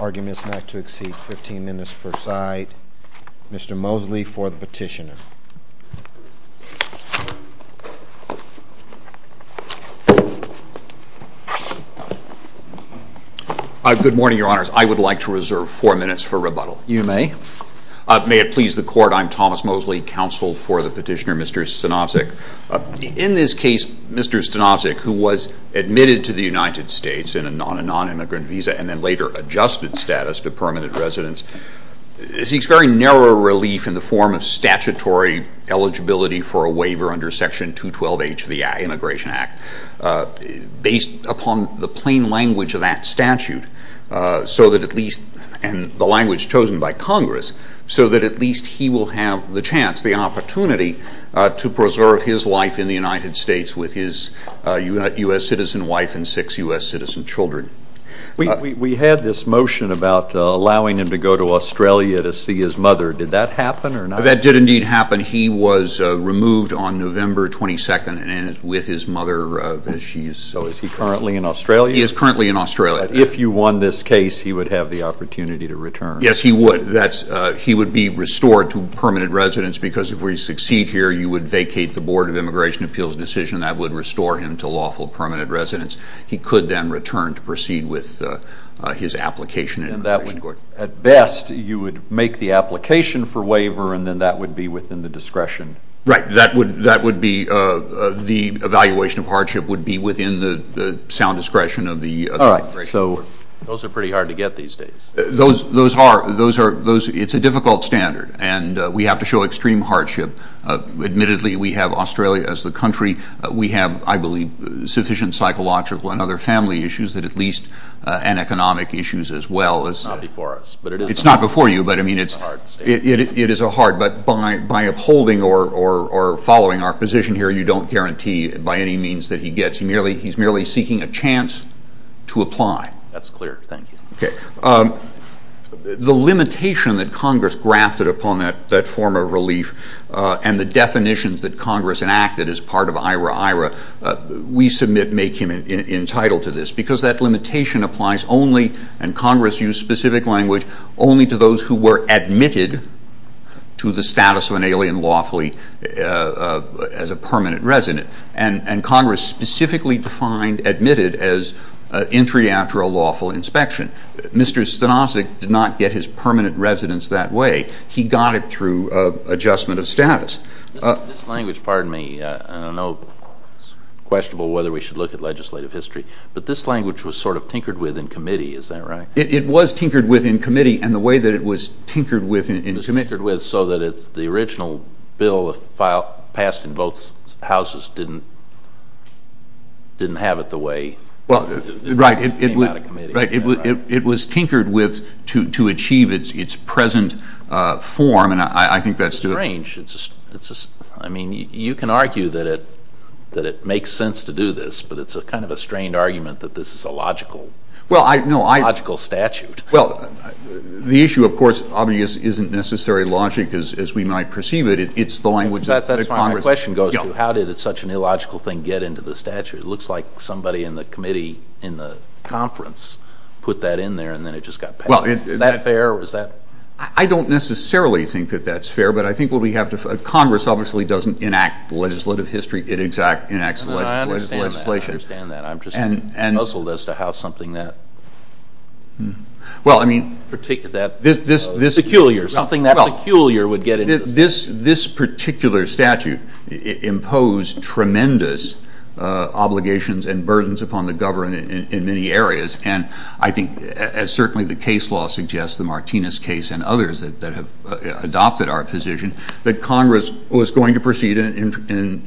Arguments not to exceed 15 minutes per side. Mr. Moseley for the petitioner. Good morning, Your Honors. I would like to reserve four minutes for rebuttal. You may. May it please the Court, I'm Thomas Moseley, counsel for the petitioner, Mr. Stanovsek. In this case, Mr. Stanovsek, who was admitted to the United States on a non-immigrant visa and then later adjusted status to permanent residence, seeks very narrow relief in the form of statutory eligibility for a waiver under Section 212H of the Immigration Act, based upon the plain language of that statute and the language chosen by Congress, so that at least he will have the chance, the opportunity, to preserve his life in the United States with his U.S. citizen wife and six U.S. citizen children. We had this motion about allowing him to go to Australia to see his mother. Did that happen or not? That did indeed happen. He was removed on November 22nd with his mother. So is he currently in Australia? He is currently in Australia. If you won this case, he would have the opportunity to return. Yes, he would. He would be restored to permanent residence because if we succeed here, you would vacate the Board of Immigration Appeals decision that would restore him to lawful permanent residence. He could then return to proceed with his application in immigration court. At best, you would make the application for waiver and then that would be within the discretion? Right. The evaluation of hardship would be within the sound discretion of the immigration court. Those are pretty hard to get these days. It's a difficult standard, and we have to show extreme hardship. Admittedly, we have Australia as the country. We have, I believe, sufficient psychological and other family issues and economic issues as well. It's not before us. It's not before you, but it is hard. But by upholding or following our position here, you don't guarantee by any means that he gets. He's merely seeking a chance to apply. That's clear. Thank you. The limitation that Congress grafted upon that form of relief and the definitions that Congress enacted as part of IRA-IRA, we submit make him entitled to this because that limitation applies only, and Congress used specific language, only to those who were admitted to the status of an alien lawfully as a permanent resident. And Congress specifically defined admitted as entry after a lawful inspection. Mr. Stanovich did not get his permanent residence that way. He got it through adjustment of status. This language, pardon me, I don't know if it's questionable whether we should look at legislative history, but this language was sort of tinkered with in committee. Is that right? It was tinkered with in committee, and the way that it was tinkered with in committee. It was tinkered with so that the original bill passed in both houses didn't have it the way it came out of committee. Right. It was tinkered with to achieve its present form, and I think that's the— It's strange. I mean, you can argue that it makes sense to do this, but it's kind of a strained argument that this is a logical statute. Well, the issue, of course, obviously isn't necessarily logic as we might perceive it. It's the language that Congress— That's fine. My question goes to how did such an illogical thing get into the statute? It looks like somebody in the committee in the conference put that in there, and then it just got passed. Is that fair, or is that— I don't necessarily think that that's fair, but I think what we have to— Congress obviously doesn't enact legislative history. It exact enacts legislation. I understand that. I'm just puzzled as to how something that peculiar, something that peculiar would get into the statute. This particular statute imposed tremendous obligations and burdens upon the government in many areas, and I think, as certainly the case law suggests, the Martinez case and others that have adopted our position, that Congress was going to proceed in an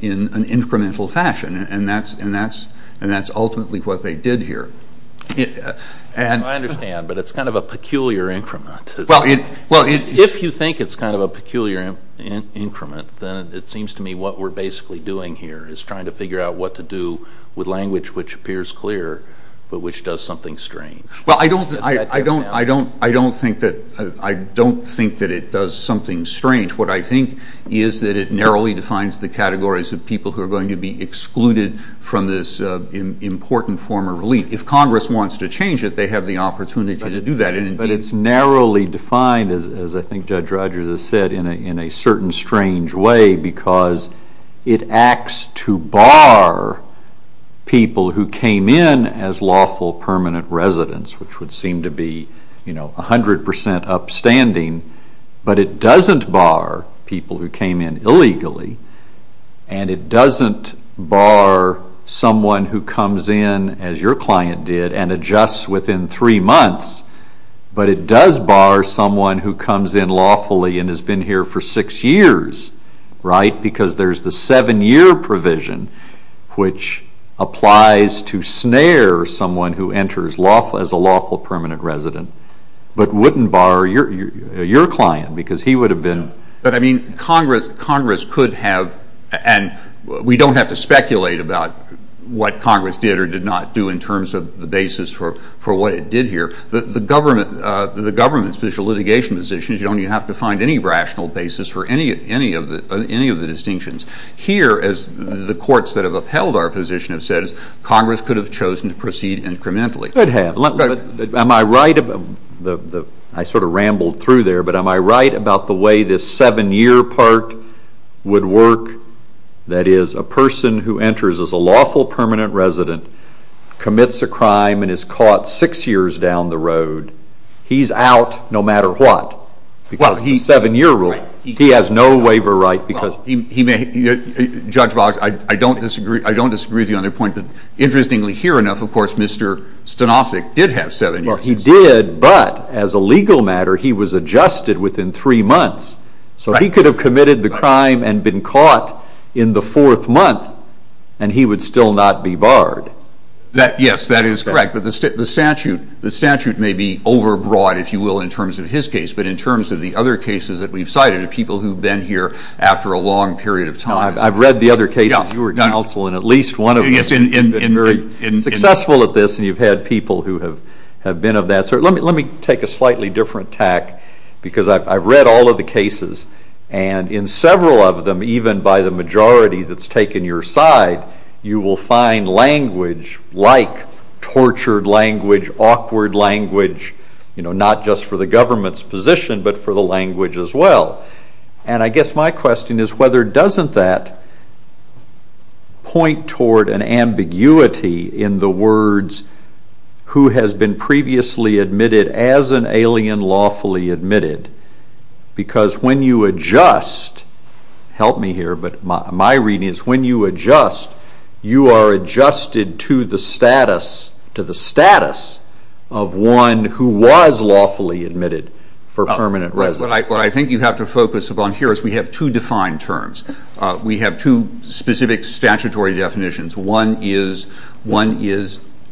incremental fashion, and that's ultimately what they did here. I understand, but it's kind of a peculiar increment. Well, it— If you think it's kind of a peculiar increment, then it seems to me what we're basically doing here is trying to figure out what to do with language which appears clear but which does something strange. Well, I don't think that it does something strange. What I think is that it narrowly defines the categories of people who are going to be excluded from this important form of relief. If Congress wants to change it, they have the opportunity to do that. But it's narrowly defined, as I think Judge Rogers has said, in a certain strange way because it acts to bar people who came in as lawful permanent residents, which would seem to be 100 percent upstanding, but it doesn't bar people who came in illegally, and it doesn't bar someone who comes in, as your client did, and adjusts within three months, but it does bar someone who comes in lawfully and has been here for six years, right, because there's the seven-year provision which applies to snare someone who enters as a lawful permanent resident, but wouldn't bar your client because he would have been— But, I mean, Congress could have—and we don't have to speculate about what Congress did or did not do in terms of the basis for what it did here. The government's position, litigation position, you don't have to find any rational basis for any of the distinctions. Here, as the courts that have upheld our position have said, Congress could have chosen to proceed incrementally. It could have. Am I right—I sort of rambled through there, but am I right about the way this seven-year part would work? That is, a person who enters as a lawful permanent resident commits a crime and is caught six years down the road, he's out no matter what because of the seven-year rule. He has no waiver right because— Judge Boggs, I don't disagree with you on that point. Interestingly, here enough, of course, Mr. Stanofsic did have seven years. Well, he did, but as a legal matter, he was adjusted within three months. So he could have committed the crime and been caught in the fourth month, and he would still not be barred. Yes, that is correct, but the statute may be overbroad, if you will, in terms of his case, but in terms of the other cases that we've cited of people who've been here after a long period of time— I've read the other cases you were counsel, and at least one of them has been very successful at this, and you've had people who have been of that sort. Let me take a slightly different tack because I've read all of the cases, and in several of them, even by the majority that's taken your side, you will find language like tortured language, awkward language, not just for the government's position but for the language as well. And I guess my question is whether doesn't that point toward an ambiguity in the words who has been previously admitted as an alien lawfully admitted, because when you adjust—help me here, but my reading is when you adjust, you are adjusted to the status of one who was lawfully admitted for permanent residence. What I think you have to focus upon here is we have two defined terms. We have two specific statutory definitions. One is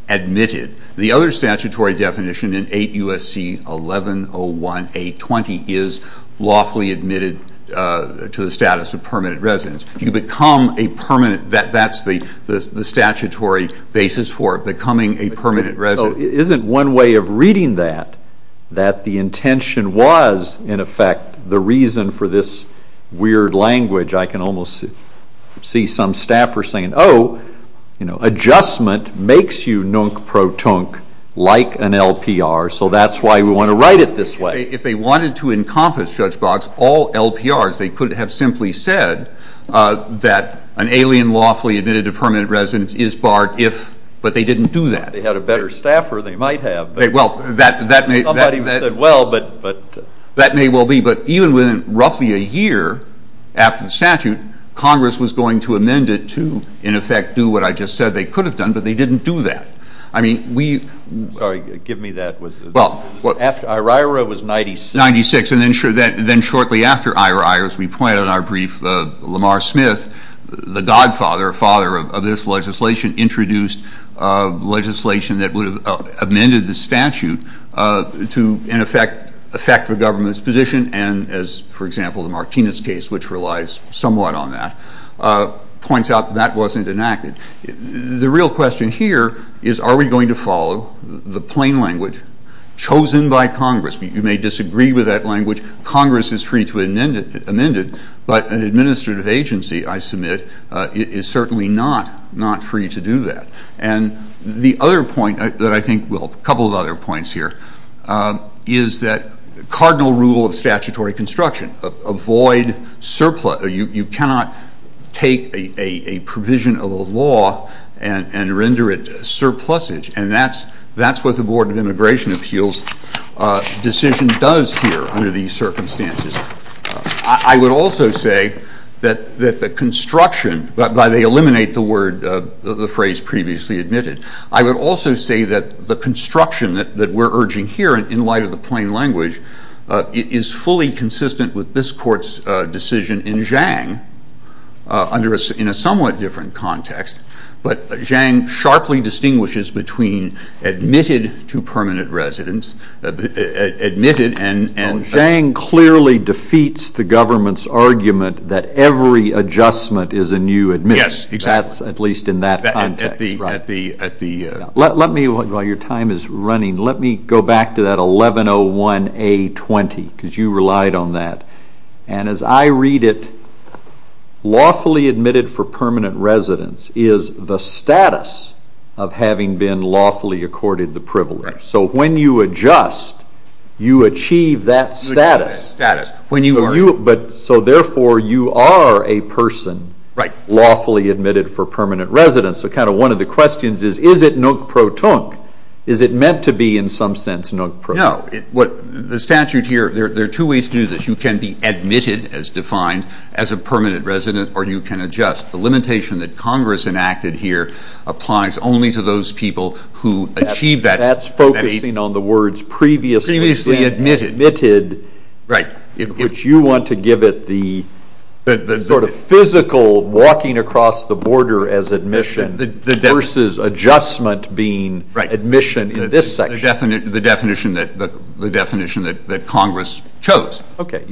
admitted. The other statutory definition in 8 U.S.C. 1101A20 is lawfully admitted to the status of permanent residence. You become a permanent—that's the statutory basis for becoming a permanent resident. So isn't one way of reading that that the intention was, in effect, the reason for this weird language? I can almost see some staffers saying, oh, adjustment makes you nunk protunk like an LPR, so that's why we want to write it this way. If they wanted to encompass, Judge Boggs, all LPRs, they could have simply said that an alien lawfully admitted to permanent residence is barred if—but they didn't do that. They had a better staffer than they might have. Well, that may— Somebody said, well, but— That may well be. But even within roughly a year after the statute, Congress was going to amend it to, in effect, do what I just said they could have done, but they didn't do that. I mean, we— Sorry, give me that. Well— After IHRA was 96. 96. And then shortly after IHRA, as we point out in our brief, Lamar Smith, the godfather or father of this legislation, introduced legislation that would have amended the statute to, in effect, affect the government's position. And as, for example, the Martinez case, which relies somewhat on that, points out, that wasn't enacted. The real question here is, are we going to follow the plain language chosen by Congress? You may disagree with that language. Congress is free to amend it. But an administrative agency, I submit, is certainly not free to do that. And the other point that I think—well, a couple of other points here—is that cardinal rule of statutory construction. Avoid surplus. You cannot take a provision of a law and render it surplusage. And that's what the Board of Immigration Appeals' decision does here under these circumstances. I would also say that the construction—they eliminate the phrase previously admitted. I would also say that the construction that we're urging here, in light of the plain language, is fully consistent with this court's decision in Zhang, in a somewhat different context. But Zhang sharply distinguishes between admitted to permanent residence—admitted and— And defeats the government's argument that every adjustment is a new admission. Yes, exactly. That's at least in that context, right? At the— Let me, while your time is running, let me go back to that 1101A20, because you relied on that. And as I read it, lawfully admitted for permanent residence is the status of having been lawfully accorded the privilege. Right. So when you adjust, you achieve that status. You achieve that status. When you are— So therefore, you are a person lawfully admitted for permanent residence. So kind of one of the questions is, is it nook-pro-tunk? Is it meant to be, in some sense, nook-pro-tunk? No. The statute here, there are two ways to do this. You can be admitted, as defined, as a permanent resident, or you can adjust. The limitation that Congress enacted here applies only to those people who achieve that— That's focusing on the words previously— Previously admitted. Admitted. Right. Which you want to give it the sort of physical walking across the border as admission versus adjustment being admission in this section. The definition that Congress chose. Okay.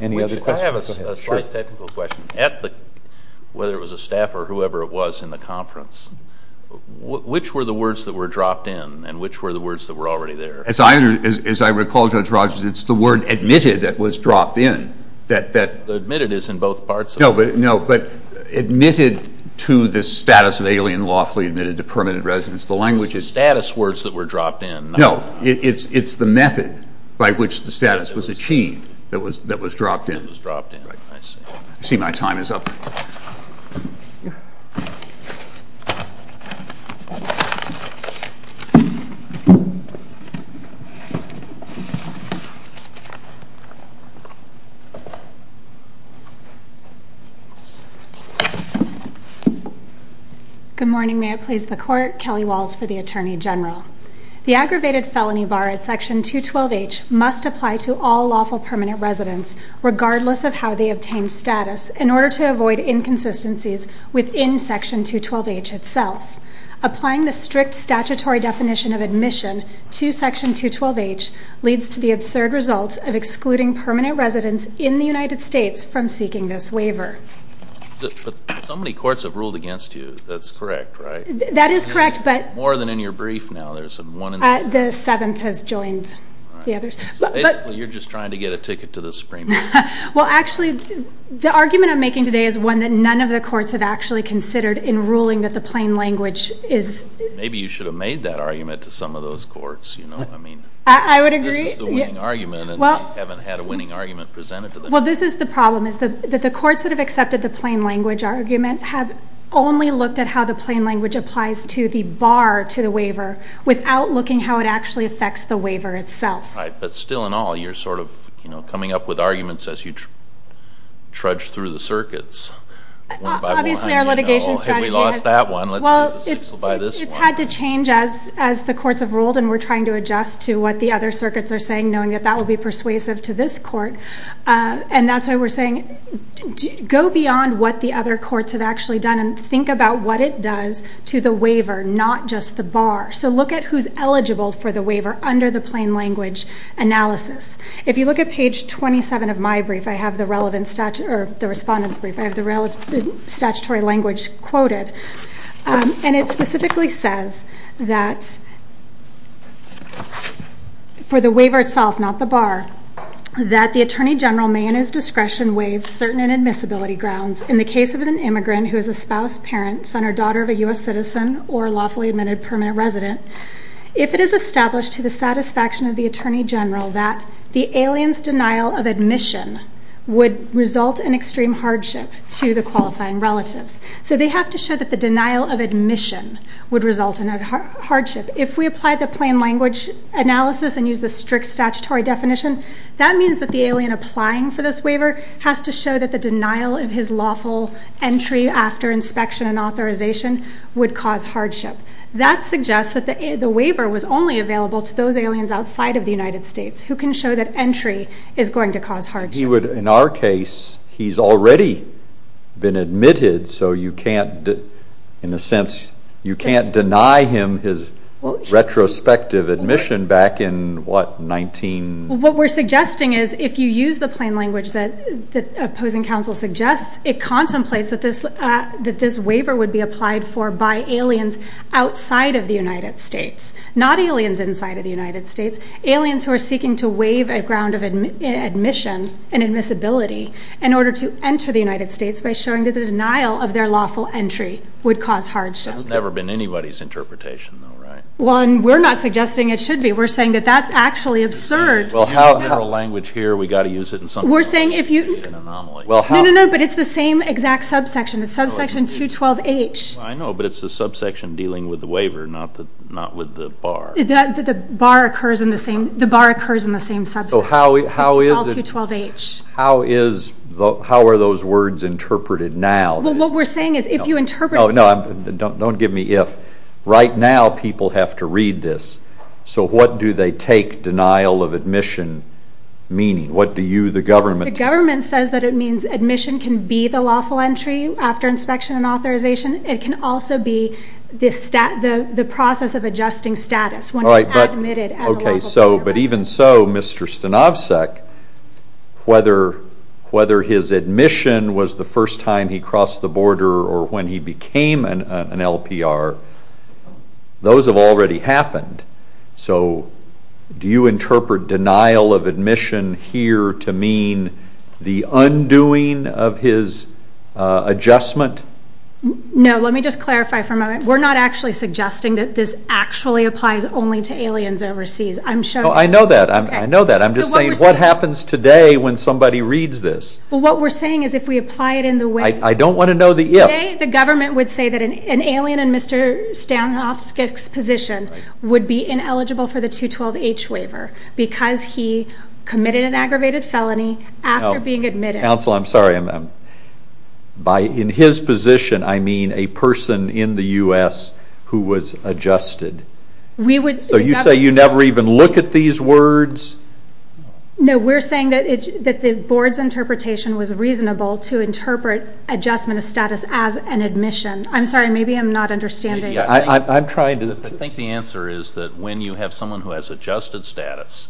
Any other questions? I have a slight technical question. At the—whether it was a staff or whoever it was in the conference, which were the words that were dropped in, and which were the words that were already there? As I recall, Judge Rogers, it's the word admitted that was dropped in. The admitted is in both parts of it. No, but admitted to the status of alien lawfully admitted to permanent residence. The language is— It's the status words that were dropped in. No. It's the method by which the status was achieved that was dropped in. That was dropped in. I see my time is up. Good morning. May it please the Court. Kelly Walls for the Attorney General. The aggravated felony bar at Section 212H must apply to all lawful permanent residents, regardless of how they obtain status, in order to avoid inconsistencies within Section 212H itself. Applying the strict statutory definition of admission to Section 212H leads to the absurd result of excluding permanent residents in the United States from seeking this waiver. But so many courts have ruled against you. That's correct, right? That is correct, but— More than in your brief now. The seventh has joined the others. Basically, you're just trying to get a ticket to the Supreme Court. Well, actually, the argument I'm making today is one that none of the courts have actually considered in ruling that the plain language is— Maybe you should have made that argument to some of those courts. I would agree. This is the winning argument, and they haven't had a winning argument presented to them. Well, this is the problem, is that the courts that have accepted the plain language argument have only looked at how the plain language applies to the bar to the waiver, without looking how it actually affects the waiver itself. Right, but still in all, you're sort of coming up with arguments as you trudge through the circuits. Obviously, our litigation strategy has— We lost that one. Let's buy this one. We've had to change as the courts have ruled, and we're trying to adjust to what the other circuits are saying, knowing that that will be persuasive to this court. That's why we're saying, go beyond what the other courts have actually done and think about what it does to the waiver, not just the bar. Look at who's eligible for the waiver under the plain language analysis. If you look at page 27 of my brief, I have the respondents' brief. I have the statutory language quoted. And it specifically says that, for the waiver itself, not the bar, that the attorney general may in his discretion waive certain inadmissibility grounds in the case of an immigrant who is a spouse, parent, son or daughter of a U.S. citizen or lawfully admitted permanent resident, if it is established to the satisfaction of the attorney general that the alien's denial of admission would result in extreme hardship to the qualifying relatives. So they have to show that the denial of admission would result in hardship. If we apply the plain language analysis and use the strict statutory definition, that means that the alien applying for this waiver has to show that the denial of his lawful entry after inspection and authorization would cause hardship. That suggests that the waiver was only available to those aliens outside of the United States who can show that entry is going to cause hardship. He would, in our case, he's already been admitted, so you can't, in a sense, you can't deny him his retrospective admission back in, what, 19- What we're suggesting is, if you use the plain language that opposing counsel suggests, it contemplates that this waiver would be applied for by aliens outside of the United States, not aliens inside of the United States, aliens who are seeking to waive a ground of admission and admissibility in order to enter the United States by showing that the denial of their lawful entry would cause hardship. That's never been anybody's interpretation, though, right? Well, and we're not suggesting it should be. We're saying that that's actually absurd. Well, how, in our language here, we've got to use it in some way to create an anomaly. No, no, no, but it's the same exact subsection. It's subsection 212H. I know, but it's the subsection dealing with the waiver, not with the bar. The bar occurs in the same subsection. So how is it- All 212H. How is, how are those words interpreted now? Well, what we're saying is, if you interpret- Oh, no, don't give me if. Right now, people have to read this. So what do they take denial of admission meaning? What do you, the government- The government says that it means admission can be the lawful entry after inspection and authorization. It can also be the process of adjusting status when you're admitted as a lawful- Okay, so, but even so, Mr. Stanovsek, whether his admission was the first time he crossed the border or when he became an LPR, those have already happened. So do you interpret denial of admission here to mean the undoing of his adjustment? No, let me just clarify for a moment. We're not actually suggesting that this actually applies only to aliens overseas. I'm showing- No, I know that. I know that. I'm just saying, what happens today when somebody reads this? Well, what we're saying is, if we apply it in the way- I don't want to know the if. Today, the government would say that an alien in Mr. Stanovsek's position would be ineligible for the 212H waiver because he committed an aggravated felony after being admitted. Counsel, I'm sorry. By in his position, I mean a person in the U.S. who was adjusted. We would- So you say you never even look at these words? No, we're saying that the board's interpretation was reasonable to interpret adjustment of status as an admission. I'm sorry. Maybe I'm not understanding. I'm trying to- I think the answer is that when you have someone who has adjusted status,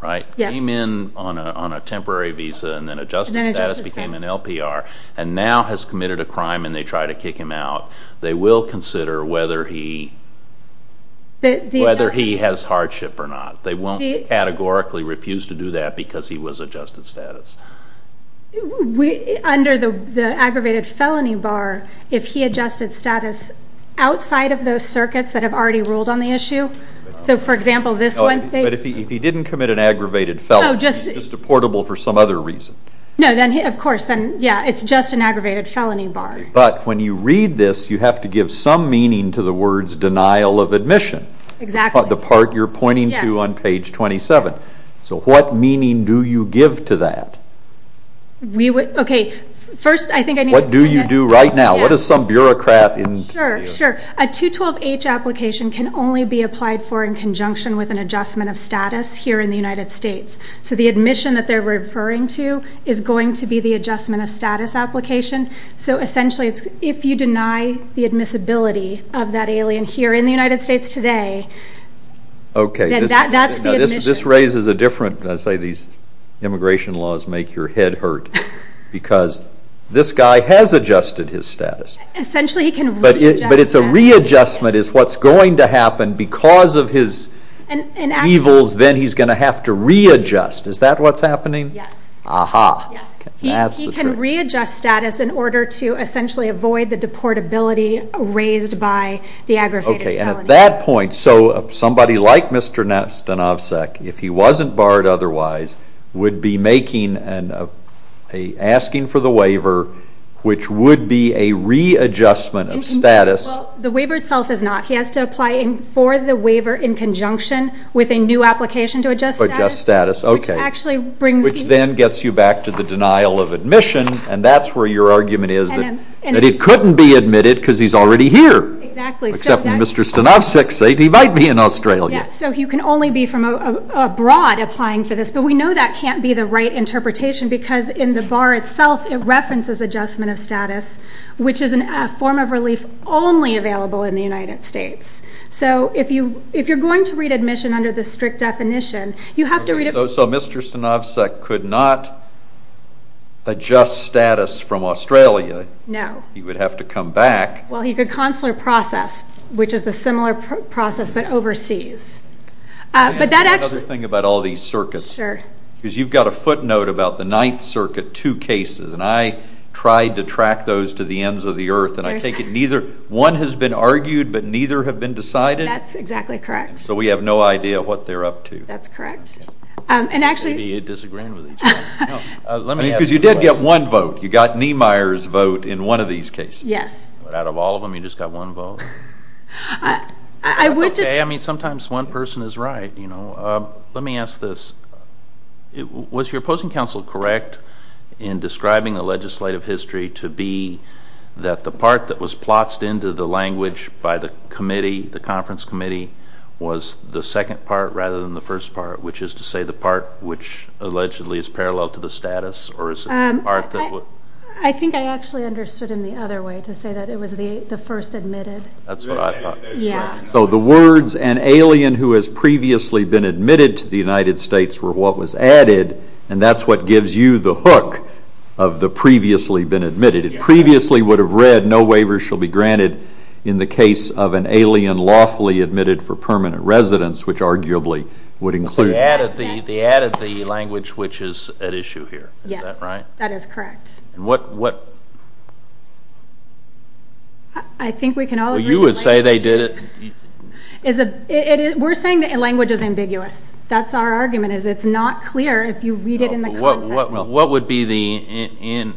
right, came in on a temporary visa and then adjusted status, became an LPR, and now has committed a crime and they try to kick him out, they will consider whether he has hardship or not. They won't categorically refuse to do that because he was adjusted status. Under the aggravated felony bar, if he adjusted status outside of those circuits that have already ruled on the issue, so, for example, this one- But if he didn't commit an aggravated felony- No, just- Just a portable for some other reason. No, then, of course, then, yeah, it's just an aggravated felony bar. But when you read this, you have to give some meaning to the words denial of admission. Exactly. That's the part you're pointing to on page 27. So what meaning do you give to that? Okay, first, I think I need to say that- What do you do right now? What does some bureaucrat- Sure, sure. A 212H application can only be applied for in conjunction with an adjustment of status here in the United States. So the admission that they're referring to is going to be the adjustment of status application. So, essentially, if you deny the admissibility of that alien here in the United States today, then that's the admission. Okay, this raises a different- I say these immigration laws make your head hurt because this guy has adjusted his status. Essentially, he can readjust his status. But it's a readjustment is what's going to happen because of his evils, then he's going to have to readjust. Is that what's happening? Yes. Aha. Yes. He can readjust status in order to essentially avoid the deportability raised by the aggravated felony. Okay, and at that point, so somebody like Mr. Stanovsek, if he wasn't barred otherwise, would be asking for the waiver, which would be a readjustment of status. The waiver itself is not. He has to apply for the waiver in conjunction with a new application to adjust status. Adjust status, okay. Which actually brings- Which then gets you back to the denial of admission, and that's where your argument is, that he couldn't be admitted because he's already here. Exactly. Except Mr. Stanovsek said he might be in Australia. Yes, so he can only be from abroad applying for this, but we know that can't be the right interpretation because in the bar itself, it references adjustment of status, which is a form of relief only available in the United States. So if you're going to read admission under the strict definition, you have to read it- So Mr. Stanovsek could not adjust status from Australia. No. He would have to come back. Well, he could consular process, which is a similar process, but overseas. But that actually- Let me ask you another thing about all these circuits. Sure. Because you've got a footnote about the Ninth Circuit, two cases, and I tried to track those to the ends of the earth, and I take it neither one has been argued, but neither have been decided? That's exactly correct. So we have no idea what they're up to. That's correct. And actually- Maybe you're disagreeing with each other. Because you did get one vote. You got Niemeyer's vote in one of these cases. Yes. But out of all of them, you just got one vote. I would just- That's okay. I mean, sometimes one person is right, you know. Let me ask this. Was your opposing counsel correct in describing the legislative history to be that the part that was plots into the language by the committee, the conference committee, was the second part rather than the first part, which is to say the part which allegedly is parallel to the status, or is it the part that- I think I actually understood him the other way, to say that it was the first admitted. That's what I thought. Yeah. So the words, an alien who has previously been admitted to the United States, were what was added, and that's what gives you the hook of the previously been admitted. Previously would have read, no waiver shall be granted in the case of an alien lawfully admitted for permanent residence, which arguably would include- They added the language which is at issue here. Yes. Is that right? That is correct. What- I think we can all agree- Well, you would say they did it- We're saying the language is ambiguous. That's our argument, is it's not clear if you read it in the context. What would be the-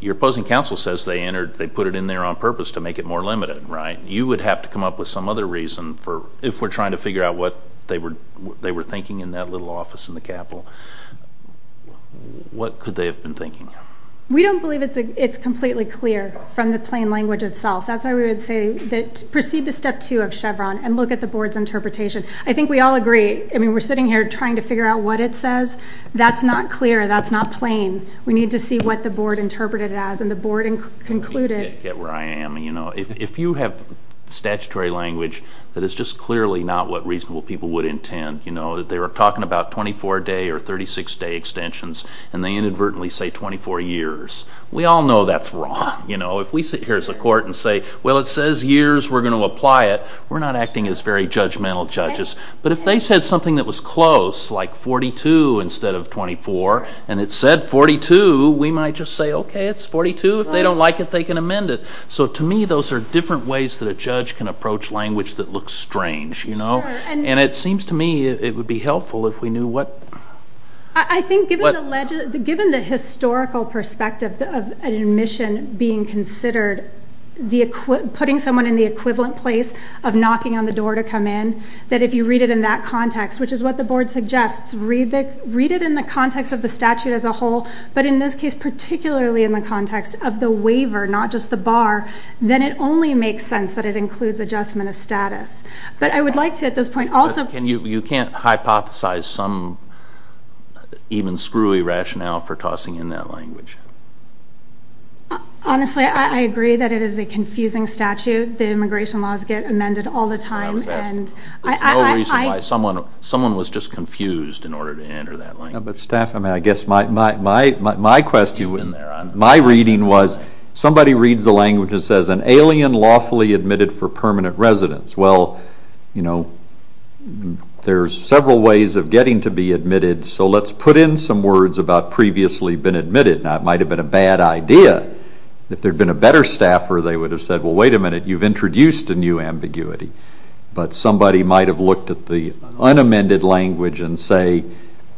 Your opposing counsel says they put it in there on purpose to make it more limited, right? You would have to come up with some other reason if we're trying to figure out what they were thinking in that little office in the capital. What could they have been thinking? We don't believe it's completely clear from the plain language itself. That's why we would say proceed to step two of Chevron and look at the board's interpretation. I think we all agree. We're sitting here trying to figure out what it says. That's not clear. That's not plain. We need to see what the board interpreted it as and the board concluded- Get where I am. If you have statutory language that is just clearly not what reasonable people would intend, that they were talking about 24-day or 36-day extensions and they inadvertently say 24 years, we all know that's wrong. If we sit here as a court and say, well, it says years, we're going to apply it, we're not acting as very judgmental judges. But if they said something that was close, like 42 instead of 24, and it said 42, we might just say, okay, it's 42. If they don't like it, they can amend it. To me, those are different ways that a judge can approach language that looks strange. It seems to me it would be helpful if we knew what- I think given the historical perspective of an admission being considered, putting someone in the equivalent place of knocking on the door to come in, that if you read it in that context, which is what the board suggests, read it in the context of the statute as a whole, but in this case particularly in the context of the waiver, not just the bar, then it only makes sense that it includes adjustment of status. But I would like to at this point also- You can't hypothesize some even screwy rationale for tossing in that language. Honestly, I agree that it is a confusing statute. The immigration laws get amended all the time. There's no reason why someone was just confused in order to enter that language. Staff, I guess my question, my reading was somebody reads the language and says, an alien lawfully admitted for permanent residence. Well, you know, there's several ways of getting to be admitted, so let's put in some words about previously been admitted. Now, it might have been a bad idea. If there had been a better staffer, they would have said, well, wait a minute, you've introduced a new ambiguity. But somebody might have looked at the unamended language and say,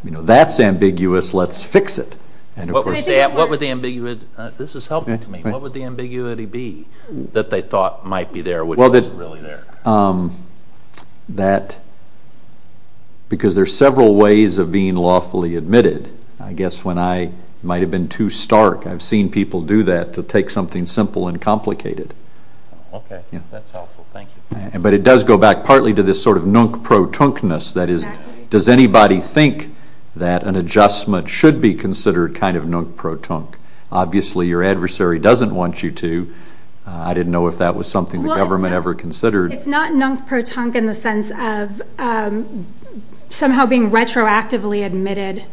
you know, that's ambiguous, let's fix it. What would the ambiguity- this is helpful to me. What would the ambiguity be that they thought might be there, which wasn't really there? That because there's several ways of being lawfully admitted. I guess when I might have been too stark, I've seen people do that to take something simple and complicated. Okay, that's helpful. Thank you. But it does go back partly to this sort of nunk-pro-tunkness. That is, does anybody think that an adjustment should be considered kind of nunk-pro-tunk? Obviously, your adversary doesn't want you to. I didn't know if that was something the government ever considered. It's not nunk-pro-tunk in the sense of somehow being retroactively admitted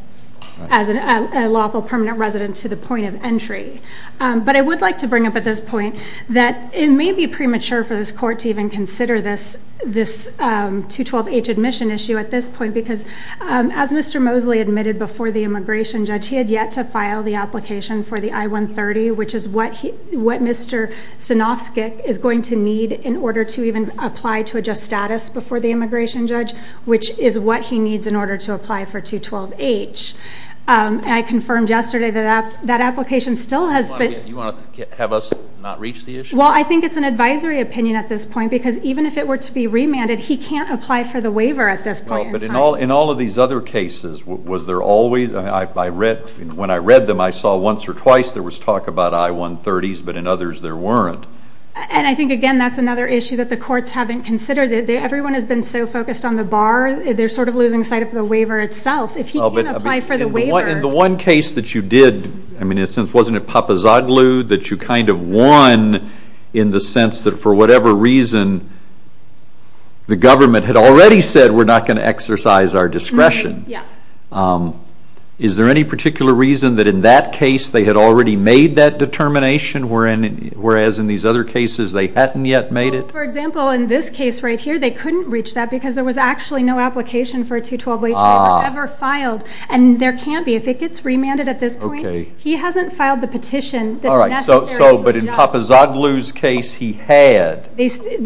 as a lawful permanent resident to the point of entry. But I would like to bring up at this point that it may be premature for this court to even consider this 212H admission issue at this point, because as Mr. Mosley admitted before the immigration judge, he had yet to file the application for the I-130, which is what Mr. Stanofsky is going to need in order to even apply to adjust status before the immigration judge, which is what he needs in order to apply for 212H. I confirmed yesterday that that application still has been... You want to have us not reach the issue? Well, I think it's an advisory opinion at this point, because even if it were to be remanded, he can't apply for the waiver at this point in time. But in all of these other cases, was there always? When I read them, I saw once or twice there was talk about I-130s, but in others there weren't. And I think, again, that's another issue that the courts haven't considered. Everyone has been so focused on the bar, they're sort of losing sight of the waiver itself. If he can't apply for the waiver... In the one case that you did, wasn't it Papazoglu that you kind of won in the sense that for whatever reason the government had already said we're not going to exercise our discretion? Yeah. Is there any particular reason that in that case they had already made that determination, whereas in these other cases they hadn't yet made it? Well, for example, in this case right here, they couldn't reach that because there was actually no application for a 212H waiver ever filed. And there can't be. If it gets remanded at this point, he hasn't filed the petition that's necessary to adjust. All right, but in Papazoglu's case, he had. The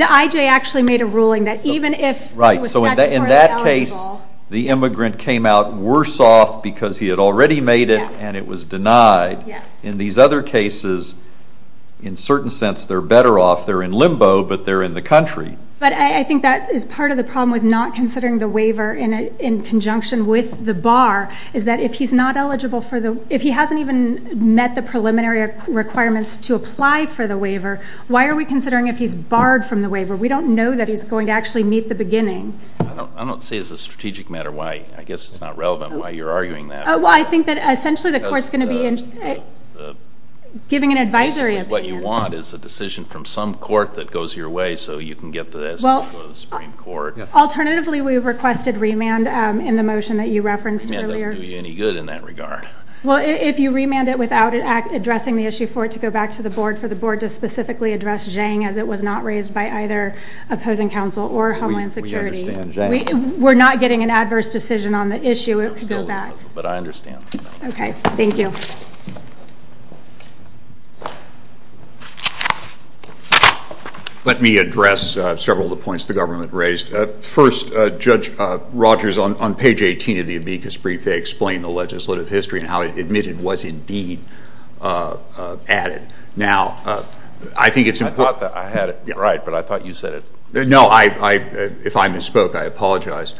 IJ actually made a ruling that even if he was statutorily eligible... Right, so in that case, the immigrant came out worse off because he had already made it and it was denied. In these other cases, in a certain sense, they're better off. They're in limbo, but they're in the country. But I think that is part of the problem with not considering the waiver in conjunction with the bar is that if he's not eligible for the... if he hasn't even met the preliminary requirements to apply for the waiver, why are we considering if he's barred from the waiver? We don't know that he's going to actually meet the beginning. I don't see as a strategic matter why. I guess it's not relevant why you're arguing that. Well, I think that essentially the court's going to be giving an advisory opinion. What you want is a decision from some court that goes your way so you can get to the Supreme Court. Alternatively, we've requested remand in the motion that you referenced earlier. It doesn't do you any good in that regard. Well, if you remand it without addressing the issue for it to go back to the board, for the board to specifically address Zhang as it was not raised by either opposing counsel or Homeland Security. We understand Zhang. We're not getting an adverse decision on the issue. It could go back. But I understand. Okay. Thank you. Let me address several of the points the government raised. First, Judge Rogers, on page 18 of the amicus brief, they explain the legislative history and how it admitted was indeed added. Now, I think it's important. I thought that I had it right, but I thought you said it. No, if I misspoke, I apologize.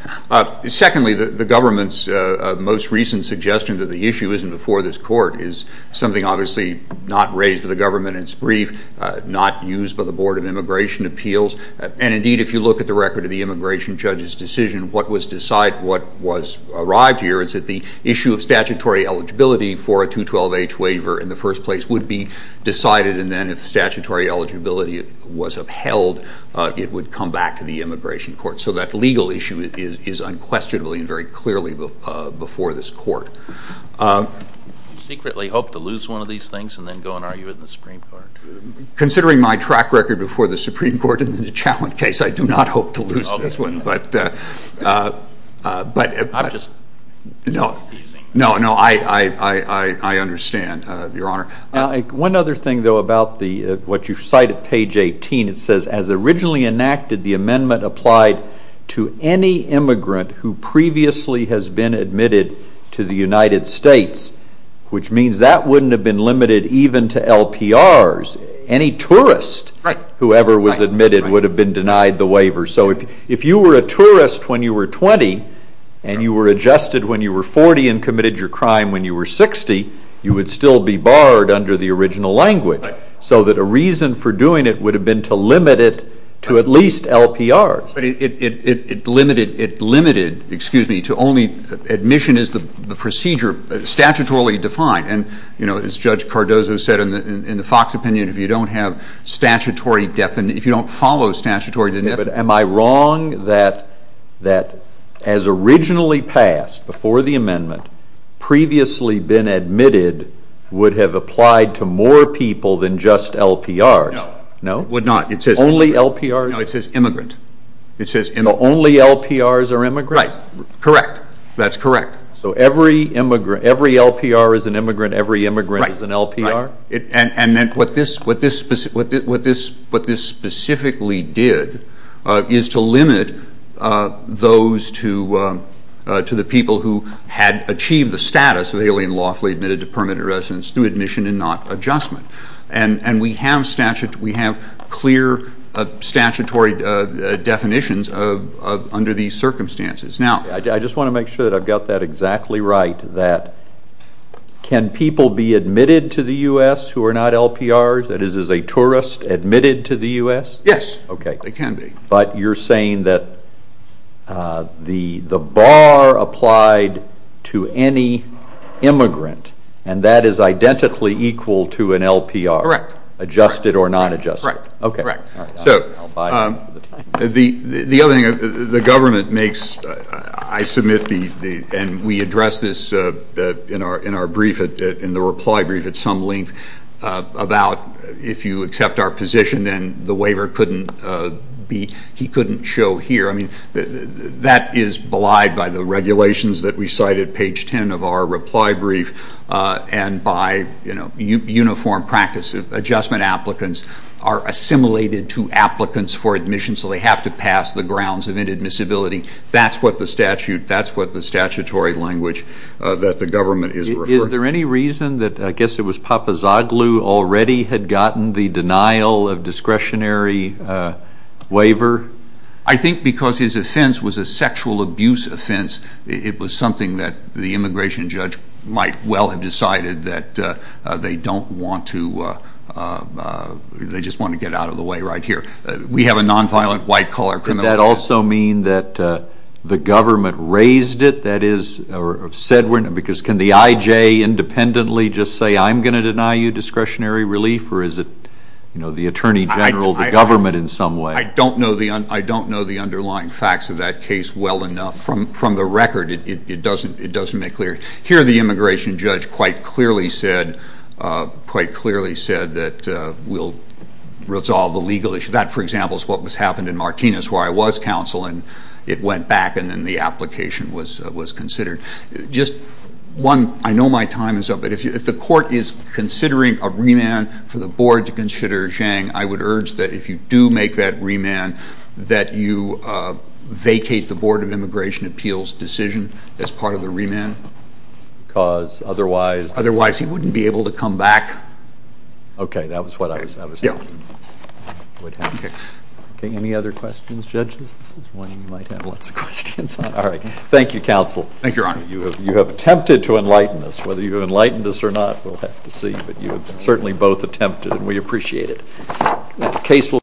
Secondly, the government's most recent suggestion that the issue isn't before this court is something obviously not raised by the government in its brief, not used by the Board of Immigration Appeals. And what was arrived here is that the issue of statutory eligibility for a 212H waiver in the first place would be decided, and then if statutory eligibility was upheld, it would come back to the immigration court. So that legal issue is unquestionably and very clearly before this court. Do you secretly hope to lose one of these things and then go and argue it in the Supreme Court? Considering my track record before the Supreme Court in the Challenge case, I do not hope to lose this one. I'm just teasing. No, no, I understand, Your Honor. One other thing, though, about what you cite at page 18. It says, as originally enacted, the amendment applied to any immigrant who previously has been admitted to the United States, which means that wouldn't have been limited even to LPRs. Any tourist, whoever was admitted, would have been denied the waiver. So if you were a tourist when you were 20 and you were adjusted when you were 40 and committed your crime when you were 60, you would still be barred under the original language. So that a reason for doing it would have been to limit it to at least LPRs. But it limited, excuse me, to only admission as the procedure statutorily defined. And, you know, as Judge Cardozo said in the Fox opinion, if you don't have statutory definition, if you don't follow statutory definition. But am I wrong that as originally passed before the amendment, previously been admitted would have applied to more people than just LPRs? No, it would not. Only LPRs? No, it says immigrant. So only LPRs are immigrants? Right, correct. That's correct. So every LPR is an immigrant, every immigrant is an LPR? And what this specifically did is to limit those to the people who had achieved the status of alien lawfully admitted to permanent residence through admission and not adjustment. And we have clear statutory definitions under these circumstances. I just want to make sure that I've got that exactly right, that can people be admitted to the U.S. who are not LPRs, that is as a tourist admitted to the U.S.? Yes, they can be. But you're saying that the bar applied to any immigrant and that is identically equal to an LPR? Correct. Adjusted or non-adjusted? Correct. The other thing, the government makes, I submit, and we address this in our brief, in the reply brief at some length, about if you accept our position, then the waiver couldn't be, he couldn't show here. I mean, that is belied by the regulations that we cite at page 10 of our reply brief and by uniform practice. Adjustment applicants are assimilated to applicants for admission, so they have to pass the grounds of inadmissibility. That's what the statute, that's what the statutory language that the government is referring to. Is there any reason that, I guess it was Papazoglu already had gotten the denial of discretionary waiver? I think because his offense was a sexual abuse offense, it was something that the immigration judge might well have decided that they don't want to, they just want to get out of the way right here. We have a nonviolent white-collar criminal law. Does that also mean that the government raised it, that is, or said, because can the IJ independently just say, I'm going to deny you discretionary relief, or is it, you know, the Attorney General, the government in some way? I don't know the underlying facts of that case well enough. From the record, it doesn't make clear. Here the immigration judge quite clearly said that we'll resolve the legal issue. That, for example, is what happened in Martinez where I was counsel, and it went back and then the application was considered. Just one, I know my time is up, but if the court is considering a remand for the board to consider Zhang, I would urge that if you do make that remand, that you vacate the Board of Immigration Appeals decision as part of the remand. Because otherwise? Otherwise he wouldn't be able to come back. Okay, that was what I was thinking would happen. Okay, any other questions, judges? This is one you might have lots of questions on. All right, thank you, counsel. Thank you, Your Honor. You have attempted to enlighten us. Whether you have enlightened us or not, we'll have to see. But you have certainly both attempted, and we appreciate it.